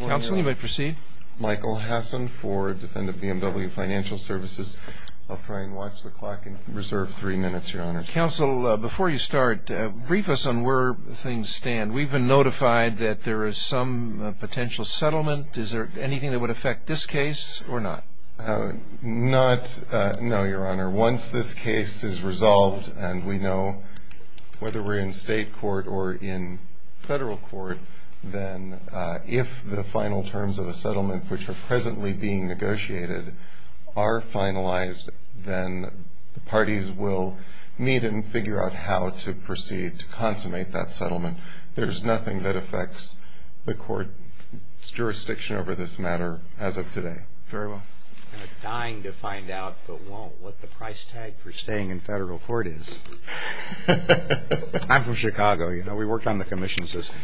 Counsel, you may proceed. Michael Hasson for Defendant BMW Financial Services. I'll try and watch the clock and reserve three minutes, Your Honor. Counsel, before you start, brief us on where things stand. We've been notified that there is some potential settlement. Is there anything that would affect this case or not? Not, no, Your Honor. Once this case is resolved and we know whether we're in state court or in federal court, then if the final terms of a settlement which are presently being negotiated are finalized, then the parties will meet and figure out how to proceed to consummate that settlement. There's nothing that affects the court's jurisdiction over this matter as of today. I'm dying to find out, but won't, what the price tag for staying in federal court is. I'm from Chicago, you know. We work on the commission system.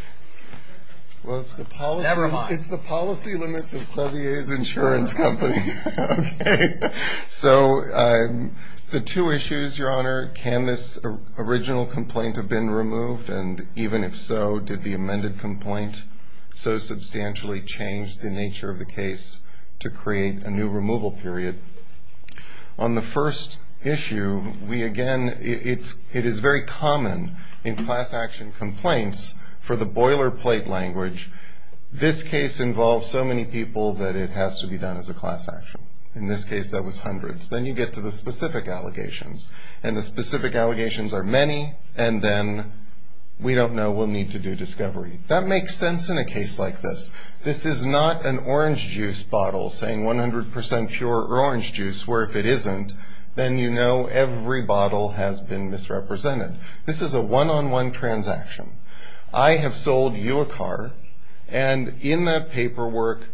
Well, it's the policy limits of Clevier's insurance company. So the two issues, Your Honor, can this original complaint have been removed? And even if so, did the amended complaint so substantially change the nature of the case to create a new removal period? On the first issue, we again, it is very common in class action complaints for the boilerplate language, this case involves so many people that it has to be done as a class action. In this case, that was hundreds. Then you get to the specific allegations, and the specific allegations are many, and then we don't know, we'll need to do discovery. That makes sense in a case like this. This is not an orange juice bottle saying 100% pure or orange juice, where if it isn't, then you know every bottle has been misrepresented. This is a one-on-one transaction. I have sold you a car, and in that paperwork,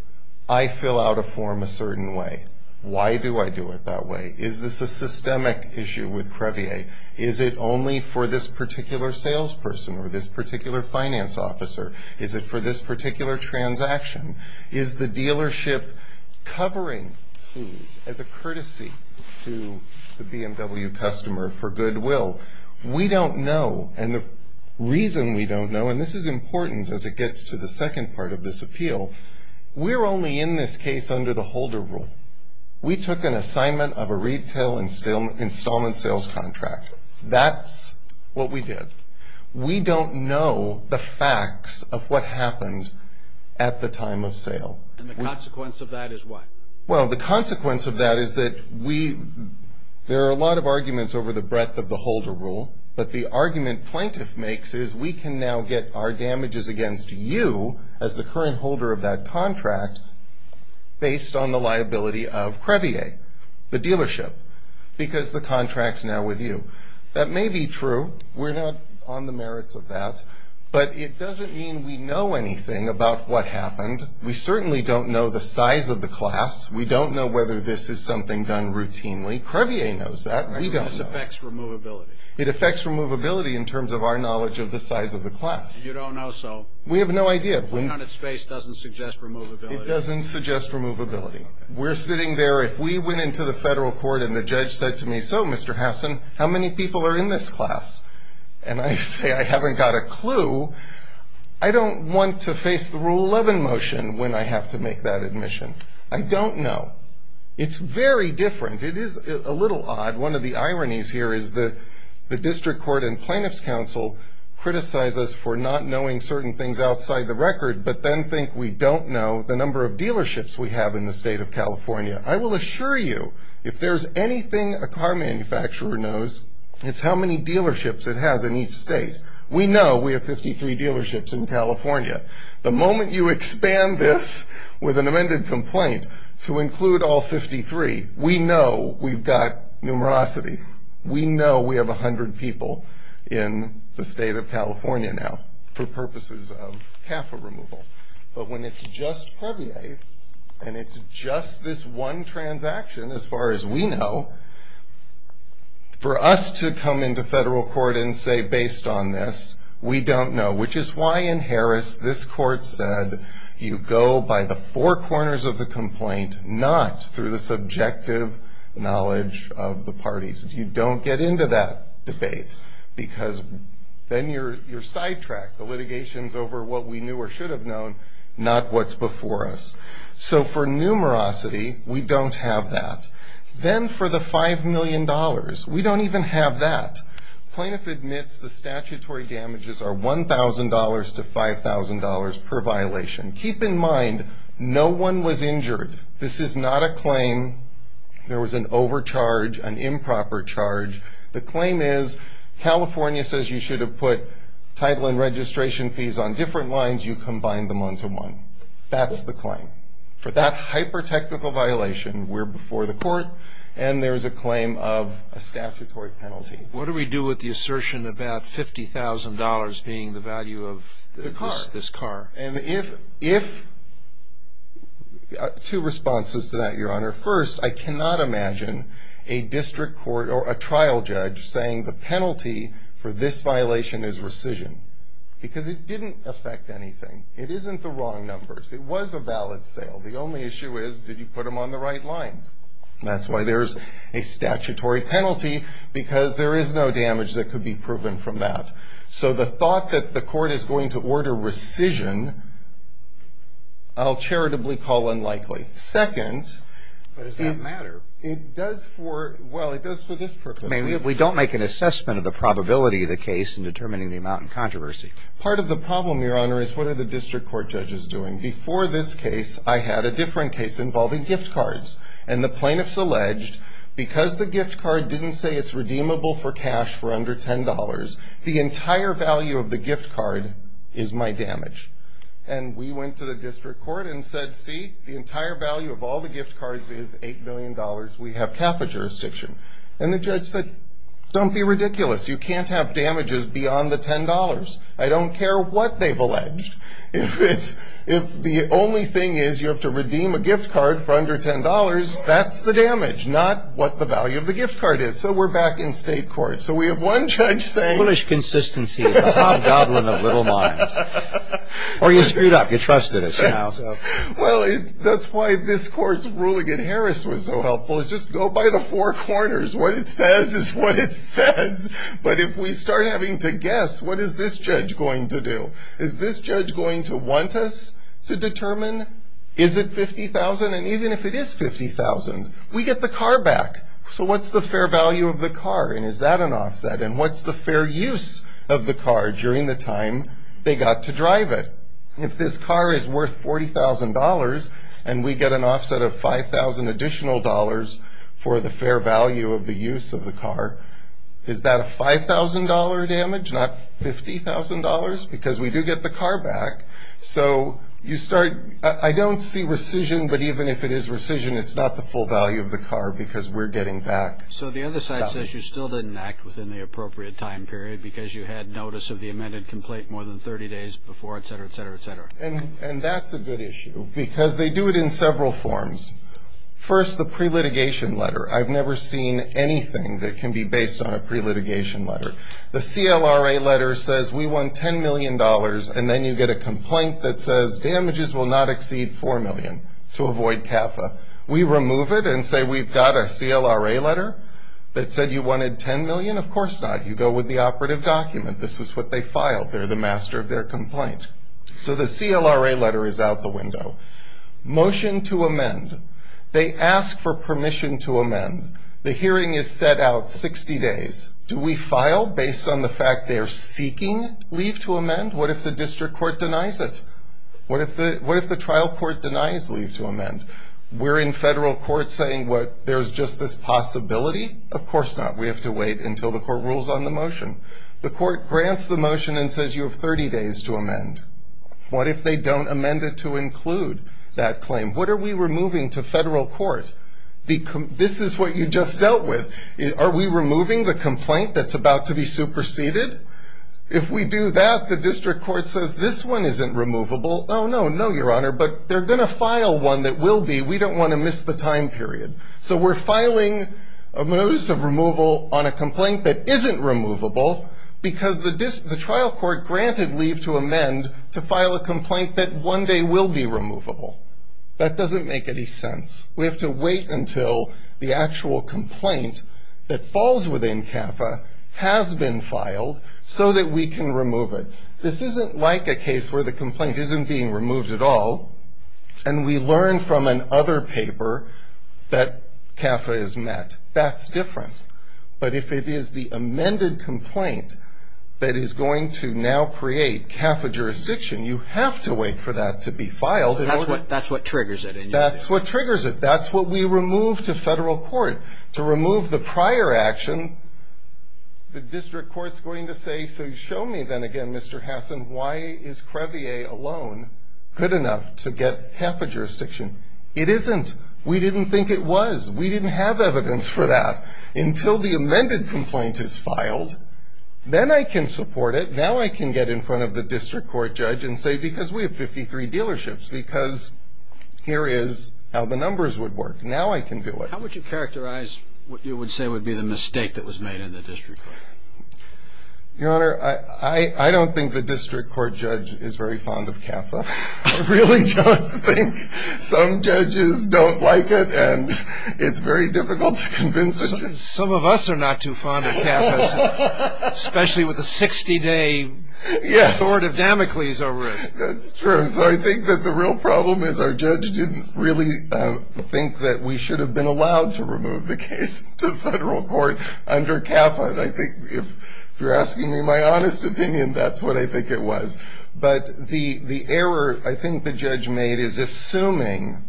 I fill out a form a certain way. Why do I do it that way? Is this a systemic issue with Crevier? Is it only for this particular salesperson or this particular finance officer? Is it for this particular transaction? Is the dealership covering fees as a courtesy to the BMW customer for goodwill? We don't know, and the reason we don't know, and this is important as it gets to the second part of this appeal, we're only in this case under the holder rule. We took an assignment of a retail installment sales contract. That's what we did. We don't know the facts of what happened at the time of sale. And the consequence of that is what? Well, the consequence of that is that there are a lot of arguments over the breadth of the holder rule, but the argument plaintiff makes is we can now get our damages against you as the current holder of that contract based on the liability of Crevier, the dealership, because the contract's now with you. That may be true. We're not on the merits of that, but it doesn't mean we know anything about what happened. We certainly don't know the size of the class. We don't know whether this is something done routinely. Crevier knows that. This affects removability. It affects removability in terms of our knowledge of the size of the class. You don't know, so? We have no idea. Looking on its face doesn't suggest removability. It doesn't suggest removability. We're sitting there. If we went into the federal court and the judge said to me, so, Mr. Hassan, how many people are in this class? And I say I haven't got a clue. I don't want to face the Rule 11 motion when I have to make that admission. I don't know. It's very different. It is a little odd. One of the ironies here is that the District Court and Plaintiffs' Council criticize us for not knowing certain things outside the record, but then think we don't know the number of dealerships we have in the state of California. I will assure you if there's anything a car manufacturer knows, it's how many dealerships it has in each state. We know we have 53 dealerships in California. The moment you expand this with an amended complaint to include all 53, we know we've got numerosity. We know we have 100 people in the state of California now for purposes of CAFA removal. But when it's just Previer and it's just this one transaction, as far as we know, for us to come into federal court and say, based on this, we don't know, which is why in Harris this court said you go by the four corners of the complaint, not through the subjective knowledge of the parties. You don't get into that debate because then you're sidetracked. The litigation's over what we knew or should have known, not what's before us. So for numerosity, we don't have that. Then for the $5 million, we don't even have that. Plaintiff admits the statutory damages are $1,000 to $5,000 per violation. Keep in mind, no one was injured. This is not a claim. There was an overcharge, an improper charge. The claim is California says you should have put title and registration fees on different lines. You combined them onto one. That's the claim. For that hyper-technical violation, we're before the court, and there's a claim of a statutory penalty. What do we do with the assertion about $50,000 being the value of this car? And if two responses to that, Your Honor. First, I cannot imagine a district court or a trial judge saying the penalty for this violation is rescission because it didn't affect anything. It isn't the wrong numbers. It was a valid sale. The only issue is did you put them on the right lines? That's why there's a statutory penalty because there is no damage that could be proven from that. So the thought that the court is going to order rescission, I'll charitably call unlikely. Second. But does that matter? It does for, well, it does for this purpose. We don't make an assessment of the probability of the case in determining the amount in controversy. Part of the problem, Your Honor, is what are the district court judges doing? Before this case, I had a different case involving gift cards, and the plaintiffs alleged because the gift card didn't say it's redeemable for cash for under $10, the entire value of the gift card is my damage. And we went to the district court and said, see, the entire value of all the gift cards is $8 million. We have CAFA jurisdiction. And the judge said, don't be ridiculous. You can't have damages beyond the $10. I don't care what they've alleged. If the only thing is you have to redeem a gift card for under $10, that's the damage, not what the value of the gift card is. So we're back in state court. So we have one judge saying. Foolish consistency is a hobgoblin of little minds. Or you screwed up. You trusted it. Well, that's why this court's ruling in Harris was so helpful. It's just go by the four corners. What it says is what it says. But if we start having to guess, what is this judge going to do? Is this judge going to want us to determine is it $50,000? And even if it is $50,000, we get the car back. So what's the fair value of the car? And is that an offset? And what's the fair use of the car during the time they got to drive it? If this car is worth $40,000 and we get an offset of $5,000 additional for the fair value of the use of the car, is that a $5,000 damage, not $50,000? Because we do get the car back. So you start. I don't see rescission. But even if it is rescission, it's not the full value of the car because we're getting back. So the other side says you still didn't act within the appropriate time period because you had notice of the amended complaint more than 30 days before, etc., etc., etc. And that's a good issue because they do it in several forms. First, the pre-litigation letter. I've never seen anything that can be based on a pre-litigation letter. The CLRA letter says we want $10 million, and then you get a complaint that says damages will not exceed $4 million to avoid CAFA. We remove it and say we've got a CLRA letter that said you wanted $10 million? Of course not. You go with the operative document. This is what they filed. They're the master of their complaint. So the CLRA letter is out the window. Motion to amend. They ask for permission to amend. The hearing is set out 60 days. Do we file based on the fact they're seeking leave to amend? What if the district court denies it? What if the trial court denies leave to amend? We're in federal court saying there's just this possibility? Of course not. We have to wait until the court rules on the motion. The court grants the motion and says you have 30 days to amend. What if they don't amend it to include that claim? What are we removing to federal court? This is what you just dealt with. Are we removing the complaint that's about to be superseded? If we do that, the district court says this one isn't removable. Oh, no, no, Your Honor, but they're going to file one that will be. We don't want to miss the time period. So we're filing a notice of removal on a complaint that isn't removable because the trial court granted leave to amend to file a complaint that one day will be removable. That doesn't make any sense. We have to wait until the actual complaint that falls within CAFA has been filed so that we can remove it. This isn't like a case where the complaint isn't being removed at all and we learn from another paper that CAFA is met. That's different. But if it is the amended complaint that is going to now create CAFA jurisdiction, you have to wait for that to be filed. That's what triggers it. That's what triggers it. That's what we remove to federal court. To remove the prior action, the district court is going to say, so show me then again, Mr. Hassan, why is CREVIEH alone good enough to get CAFA jurisdiction? It isn't. We didn't think it was. We didn't have evidence for that. Until the amended complaint is filed, then I can support it. Now I can get in front of the district court judge and say, because we have 53 dealerships, because here is how the numbers would work. Now I can do it. How would you characterize what you would say would be the mistake that was made in the district court? Your Honor, I don't think the district court judge is very fond of CAFA. I really just think some judges don't like it and it's very difficult to convince them. Some of us are not too fond of CAFA, especially with the 60-day sword of Damocles over it. That's true. So I think that the real problem is our judge didn't really think that we should have been allowed to remove the case to federal court under CAFA. If you're asking me my honest opinion, that's what I think it was. But the error I think the judge made is assuming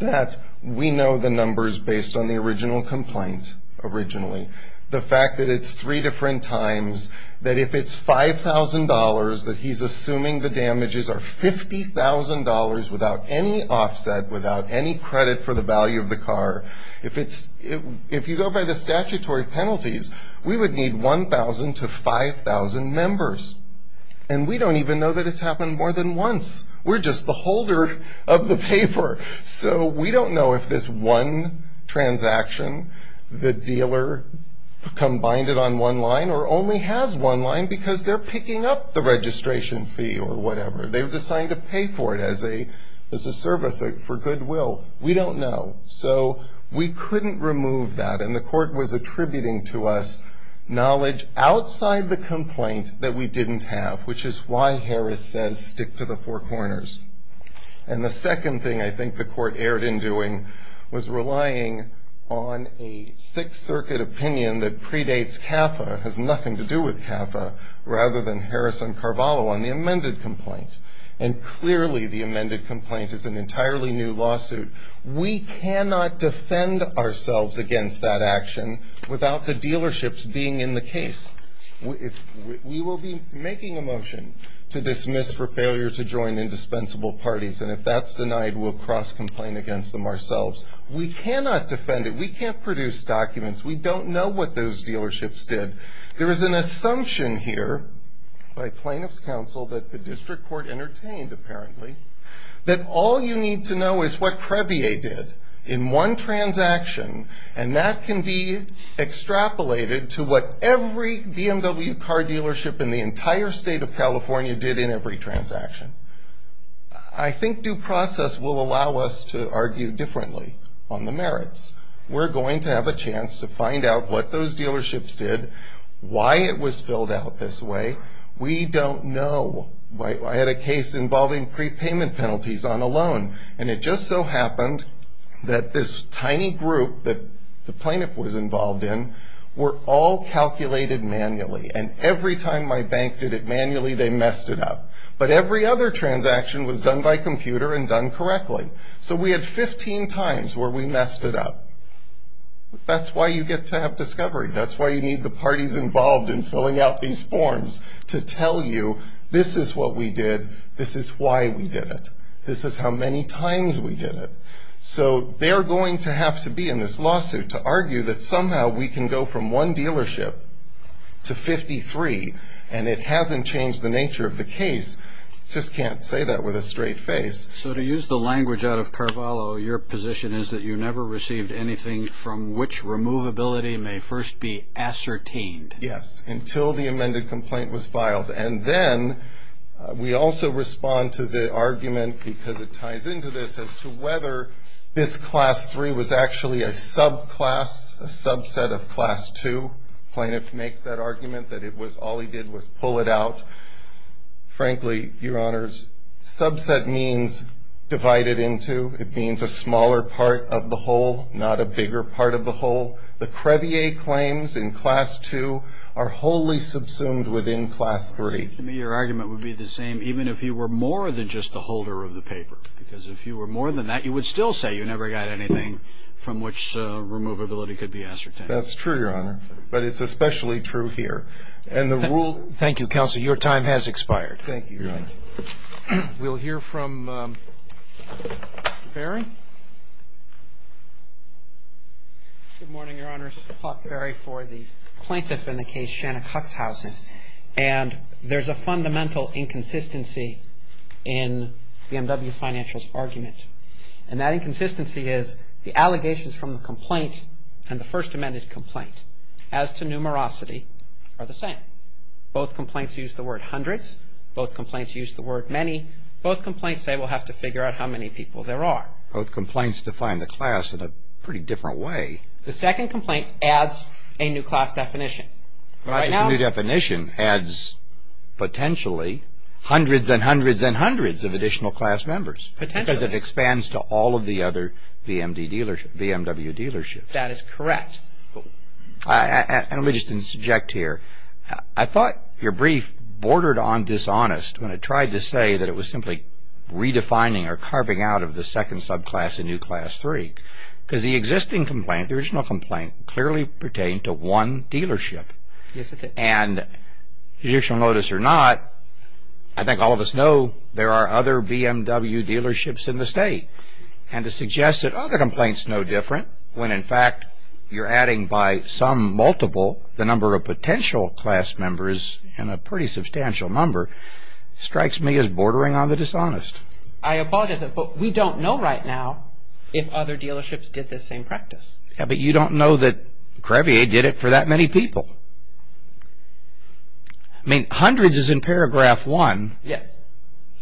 that we know the numbers based on the original complaint, originally. The fact that it's three different times, that if it's $5,000, that he's assuming the damages are $50,000 without any offset, without any credit for the value of the car. If you go by the statutory penalties, we would need 1,000 to 5,000 members. And we don't even know that it's happened more than once. We're just the holder of the paper. So we don't know if this one transaction, the dealer combined it on one line or only has one line because they're picking up the registration fee or whatever. They've decided to pay for it as a service for goodwill. We don't know. So we couldn't remove that. And the court was attributing to us knowledge outside the complaint that we didn't have, which is why Harris says stick to the four corners. And the second thing I think the court erred in doing was relying on a Sixth Circuit opinion that predates CAFA, has nothing to do with CAFA, rather than Harris and Carvalho on the amended complaint. And clearly the amended complaint is an entirely new lawsuit. We cannot defend ourselves against that action without the dealerships being in the case. We will be making a motion to dismiss for failure to join indispensable parties, and if that's denied, we'll cross-complain against them ourselves. We cannot defend it. We can't produce documents. We don't know what those dealerships did. There is an assumption here by plaintiff's counsel that the district court entertained, apparently, that all you need to know is what CREBIA did in one transaction, and that can be extrapolated to what every BMW car dealership in the entire state of California did in every transaction. I think due process will allow us to argue differently on the merits. We're going to have a chance to find out what those dealerships did, why it was filled out this way. We don't know. I had a case involving prepayment penalties on a loan, and it just so happened that this tiny group that the plaintiff was involved in were all calculated manually, and every time my bank did it manually, they messed it up. But every other transaction was done by computer and done correctly. So we had 15 times where we messed it up. That's why you get to have discovery. That's why you need the parties involved in filling out these forms to tell you, this is what we did, this is why we did it, this is how many times we did it. So they're going to have to be in this lawsuit to argue that somehow we can go from one dealership to 53, and it hasn't changed the nature of the case. Just can't say that with a straight face. So to use the language out of Carvalho, your position is that you never received anything from which removability may first be ascertained. Yes, until the amended complaint was filed. And then we also respond to the argument, because it ties into this, as to whether this Class 3 was actually a subclass, a subset of Class 2. The plaintiff makes that argument that it was all he did was pull it out. Frankly, Your Honors, subset means divided into. It means a smaller part of the whole, not a bigger part of the whole. The crevier claims in Class 2 are wholly subsumed within Class 3. To me, your argument would be the same even if you were more than just the holder of the paper. Because if you were more than that, you would still say you never got anything from which removability could be ascertained. That's true, Your Honor. But it's especially true here. And the rule Thank you, Counsel. Your time has expired. Thank you, Your Honor. We'll hear from Barry. Good morning, Your Honors. Clark Barry for the plaintiff in the case, Shannon Huxhausen. And there's a fundamental inconsistency in BMW Financial's argument. And that inconsistency is the allegations from the complaint and the first amended complaint. As to numerosity, they're the same. Both complaints use the word hundreds. Both complaints use the word many. Both complaints say we'll have to figure out how many people there are. Both complaints define the class in a pretty different way. The second complaint adds a new class definition. The new definition adds potentially hundreds and hundreds and hundreds of additional class members. Potentially. Because it expands to all of the other BMW dealerships. That is correct. And let me just interject here. I thought your brief bordered on dishonest when it tried to say that it was simply redefining or carving out of the second subclass a new class three. Because the existing complaint, the original complaint, clearly pertained to one dealership. Yes, it did. And judicial notice or not, I think all of us know there are other BMW dealerships in the state. And to suggest that other complaints know different when, in fact, you're adding by some multiple the number of potential class members in a pretty substantial number strikes me as bordering on the dishonest. I apologize, but we don't know right now if other dealerships did this same practice. Yeah, but you don't know that Crevier did it for that many people. I mean, hundreds is in paragraph one. Yes.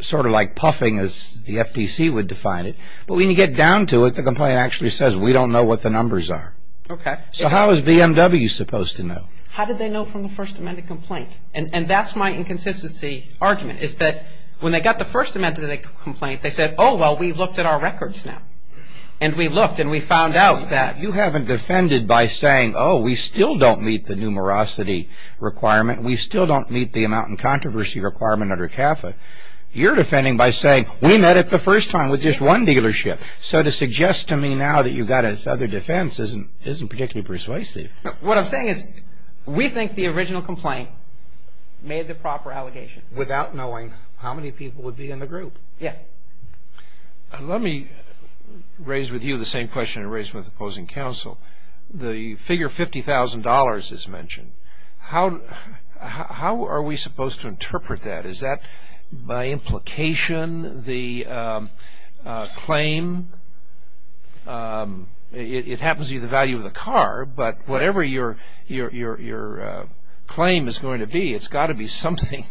Sort of like puffing as the FTC would define it. But when you get down to it, the complaint actually says we don't know what the numbers are. Okay. So how is BMW supposed to know? How did they know from the First Amendment complaint? And that's my inconsistency argument is that when they got the First Amendment complaint, they said, oh, well, we looked at our records now. And we looked and we found out that. You haven't defended by saying, oh, we still don't meet the numerosity requirement. We still don't meet the amount and controversy requirement under CAFA. You're defending by saying we met it the first time with just one dealership. So to suggest to me now that you've got its other defense isn't particularly persuasive. What I'm saying is we think the original complaint made the proper allegations. Without knowing how many people would be in the group. Yes. Let me raise with you the same question I raised with the opposing counsel. The figure $50,000 is mentioned. How are we supposed to interpret that? Is that by implication the claim? It happens to be the value of the car. But whatever your claim is going to be, it's got to be something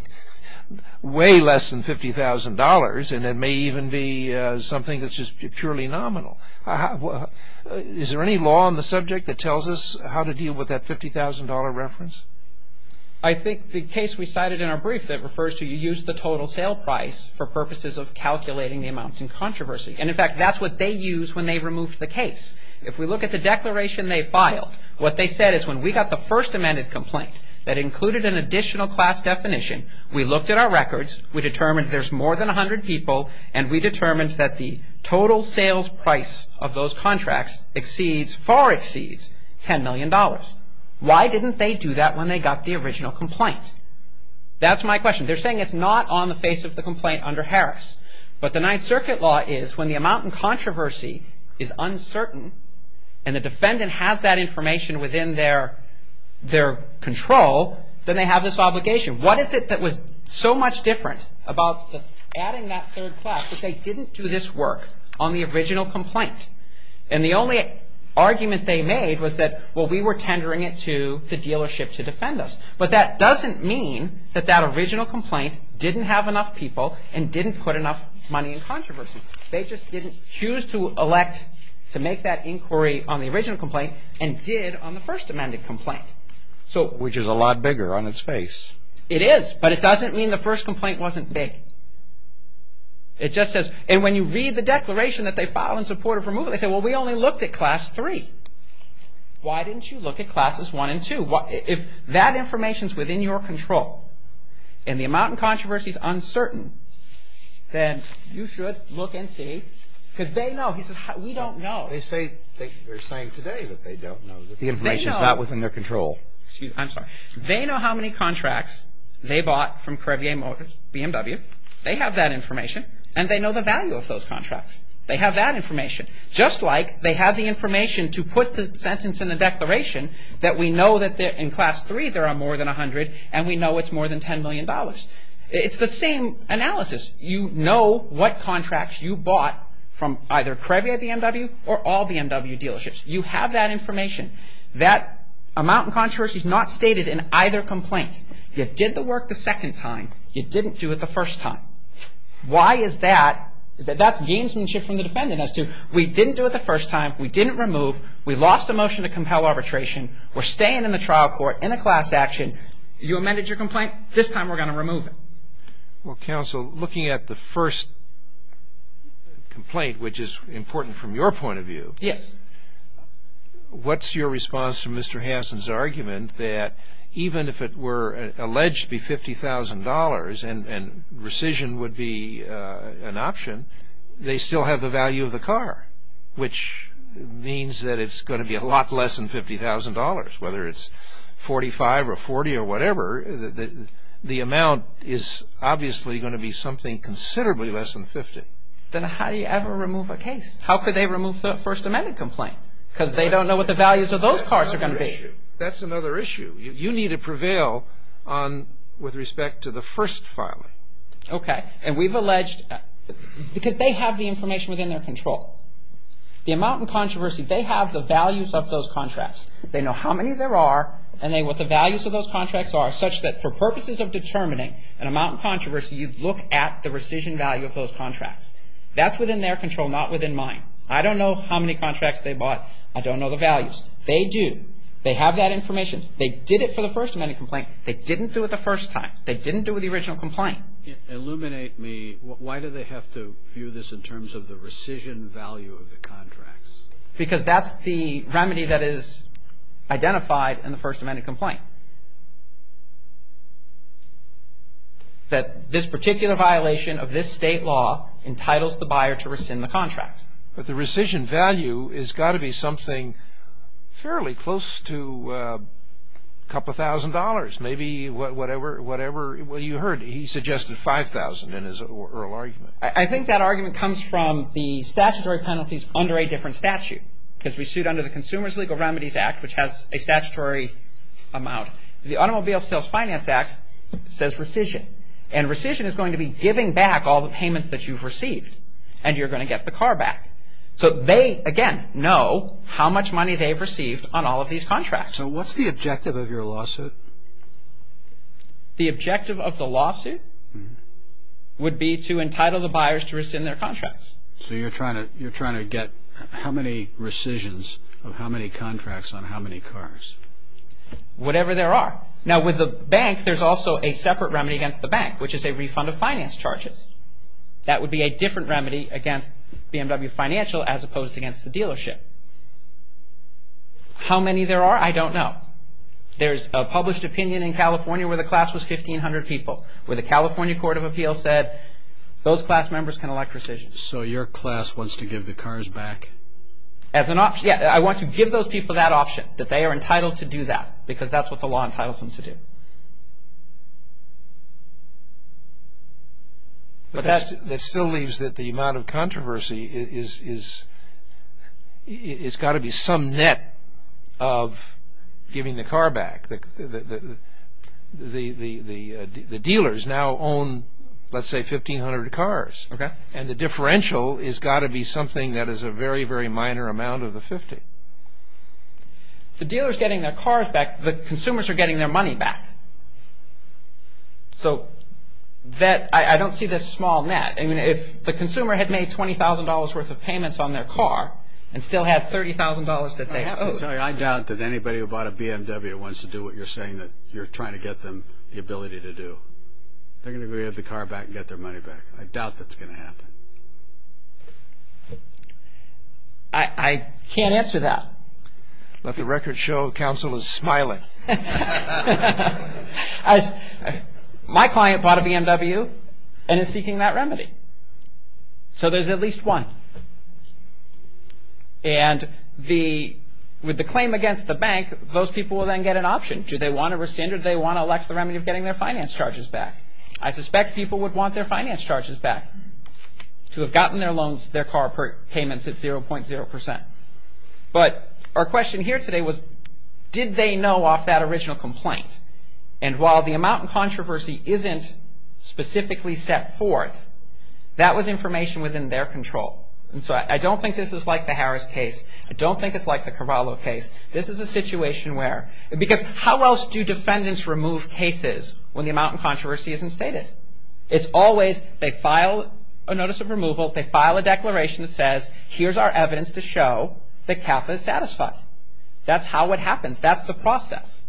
way less than $50,000. And it may even be something that's just purely nominal. Is there any law on the subject that tells us how to deal with that $50,000 reference? I think the case we cited in our brief that refers to you use the total sale price for purposes of calculating the amount and controversy. And, in fact, that's what they used when they removed the case. If we look at the declaration they filed, what they said is when we got the first amended complaint that included an additional class definition, we looked at our records, we determined there's more than 100 people, and we determined that the total sales price of those contracts far exceeds $10 million. Why didn't they do that when they got the original complaint? That's my question. They're saying it's not on the face of the complaint under Harris. But the Ninth Circuit law is when the amount and controversy is uncertain and the defendant has that information within their control, then they have this obligation. What is it that was so much different about adding that third class that they didn't do this work on the original complaint? And the only argument they made was that, well, we were tendering it to the dealership to defend us. But that doesn't mean that that original complaint didn't have enough people and didn't put enough money in controversy. They just didn't choose to elect to make that inquiry on the original complaint and did on the first amended complaint. Which is a lot bigger on its face. It is, but it doesn't mean the first complaint wasn't big. It just says, and when you read the declaration that they filed in support of removal, they say, well, we only looked at Class 3. Why didn't you look at Classes 1 and 2? If that information is within your control and the amount and controversy is uncertain, then you should look and see because they know. He says, we don't know. They're saying today that they don't know. The information is not within their control. I'm sorry. They know how many contracts they bought from Correvia BMW. They have that information and they know the value of those contracts. They have that information. Just like they have the information to put the sentence in the declaration that we know that in Class 3 there are more than 100 and we know it's more than $10 million. It's the same analysis. You know what contracts you bought from either Correvia BMW or all BMW dealerships. You have that information. That amount and controversy is not stated in either complaint. You did the work the second time. You didn't do it the first time. Why is that? That's gamesmanship from the defendant as to we didn't do it the first time. We didn't remove. We lost a motion to compel arbitration. We're staying in the trial court in a class action. You amended your complaint. This time we're going to remove it. Well, counsel, looking at the first complaint, which is important from your point of view. Yes. What's your response to Mr. Hansen's argument that even if it were alleged to be $50,000 and rescission would be an option, they still have the value of the car, which means that it's going to be a lot less than $50,000. Whether it's $45,000 or $40,000 or whatever, the amount is obviously going to be something considerably less than $50,000. Then how do you ever remove a case? How could they remove the First Amendment complaint? Because they don't know what the values of those cars are going to be. That's another issue. You need to prevail with respect to the first filing. Okay. And we've alleged because they have the information within their control. The amount in controversy, they have the values of those contracts. They know how many there are and what the values of those contracts are, such that for purposes of determining an amount in controversy, you look at the rescission value of those contracts. That's within their control, not within mine. I don't know how many contracts they bought. I don't know the values. They do. They have that information. They did it for the First Amendment complaint. They didn't do it the first time. They didn't do it with the original complaint. Illuminate me. Why do they have to view this in terms of the rescission value of the contracts? Because that's the remedy that is identified in the First Amendment complaint. That this particular violation of this state law entitles the buyer to rescind the contract. But the rescission value has got to be something fairly close to a couple thousand dollars, maybe whatever you heard. He suggested $5,000 in his oral argument. I think that argument comes from the statutory penalties under a different statute because we sued under the Consumer's Legal Remedies Act, which has a statutory amount. The Automobile Sales Finance Act says rescission, and rescission is going to be giving back all the payments that you've received, and you're going to get the car back. So they, again, know how much money they've received on all of these contracts. So what's the objective of your lawsuit? The objective of the lawsuit would be to entitle the buyers to rescind their contracts. So you're trying to get how many rescissions of how many contracts on how many cars? Whatever there are. Now, with the bank, there's also a separate remedy against the bank, which is a refund of finance charges. That would be a different remedy against BMW Financial as opposed to against the dealership. How many there are, I don't know. There's a published opinion in California where the class was 1,500 people, where the California Court of Appeals said those class members can elect rescissions. So your class wants to give the cars back? As an option. Yeah, I want to give those people that option, that they are entitled to do that because that's what the law entitles them to do. But that still leaves that the amount of controversy is got to be some net of giving the car back. The dealers now own, let's say, 1,500 cars, and the differential has got to be something that is a very, very minor amount of the 50. The dealers are getting their cars back. The consumers are getting their money back. So I don't see this small net. I mean, if the consumer had made $20,000 worth of payments on their car and still had $30,000 that they owed. I'm sorry, I doubt that anybody who bought a BMW wants to do what you're saying, that you're trying to get them the ability to do. They're going to go get the car back and get their money back. I doubt that's going to happen. I can't answer that. Let the record show counsel is smiling. My client bought a BMW and is seeking that remedy. So there's at least one. And with the claim against the bank, those people will then get an option. Do they want to rescind or do they want to elect the remedy of getting their finance charges back? I suspect people would want their finance charges back to have gotten their loans, their car payments at 0.0%. But our question here today was, did they know off that original complaint? And while the amount of controversy isn't specifically set forth, that was information within their control. And so I don't think this is like the Harris case. I don't think it's like the Carvalho case. This is a situation where, because how else do defendants remove cases when the amount of controversy isn't stated? It's always they file a notice of removal, they file a declaration that says, here's our evidence to show that CAFA is satisfied. That's how it happens. That's the process.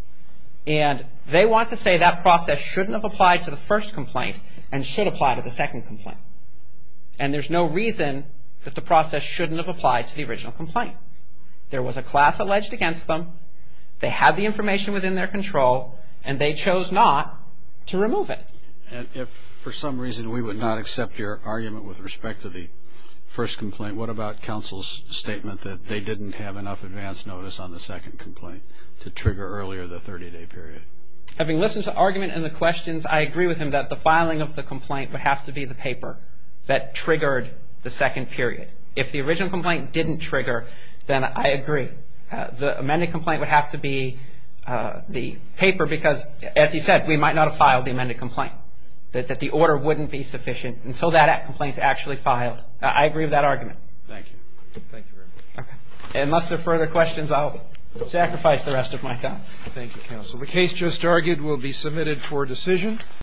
And they want to say that process shouldn't have applied to the first complaint and should apply to the second complaint. And there's no reason that the process shouldn't have applied to the original complaint. There was a class alleged against them, they had the information within their control, and they chose not to remove it. And if for some reason we would not accept your argument with respect to the first complaint, what about counsel's statement that they didn't have enough advance notice on the second complaint to trigger earlier the 30-day period? Having listened to the argument and the questions, I agree with him that the filing of the complaint would have to be the paper that triggered the second period. If the original complaint didn't trigger, then I agree. The amended complaint would have to be the paper because, as he said, we might not have filed the amended complaint, that the order wouldn't be sufficient until that complaint is actually filed. I agree with that argument. Thank you. Thank you very much. Unless there are further questions, I'll sacrifice the rest of my time. Thank you, counsel. The case just argued will be submitted for decision.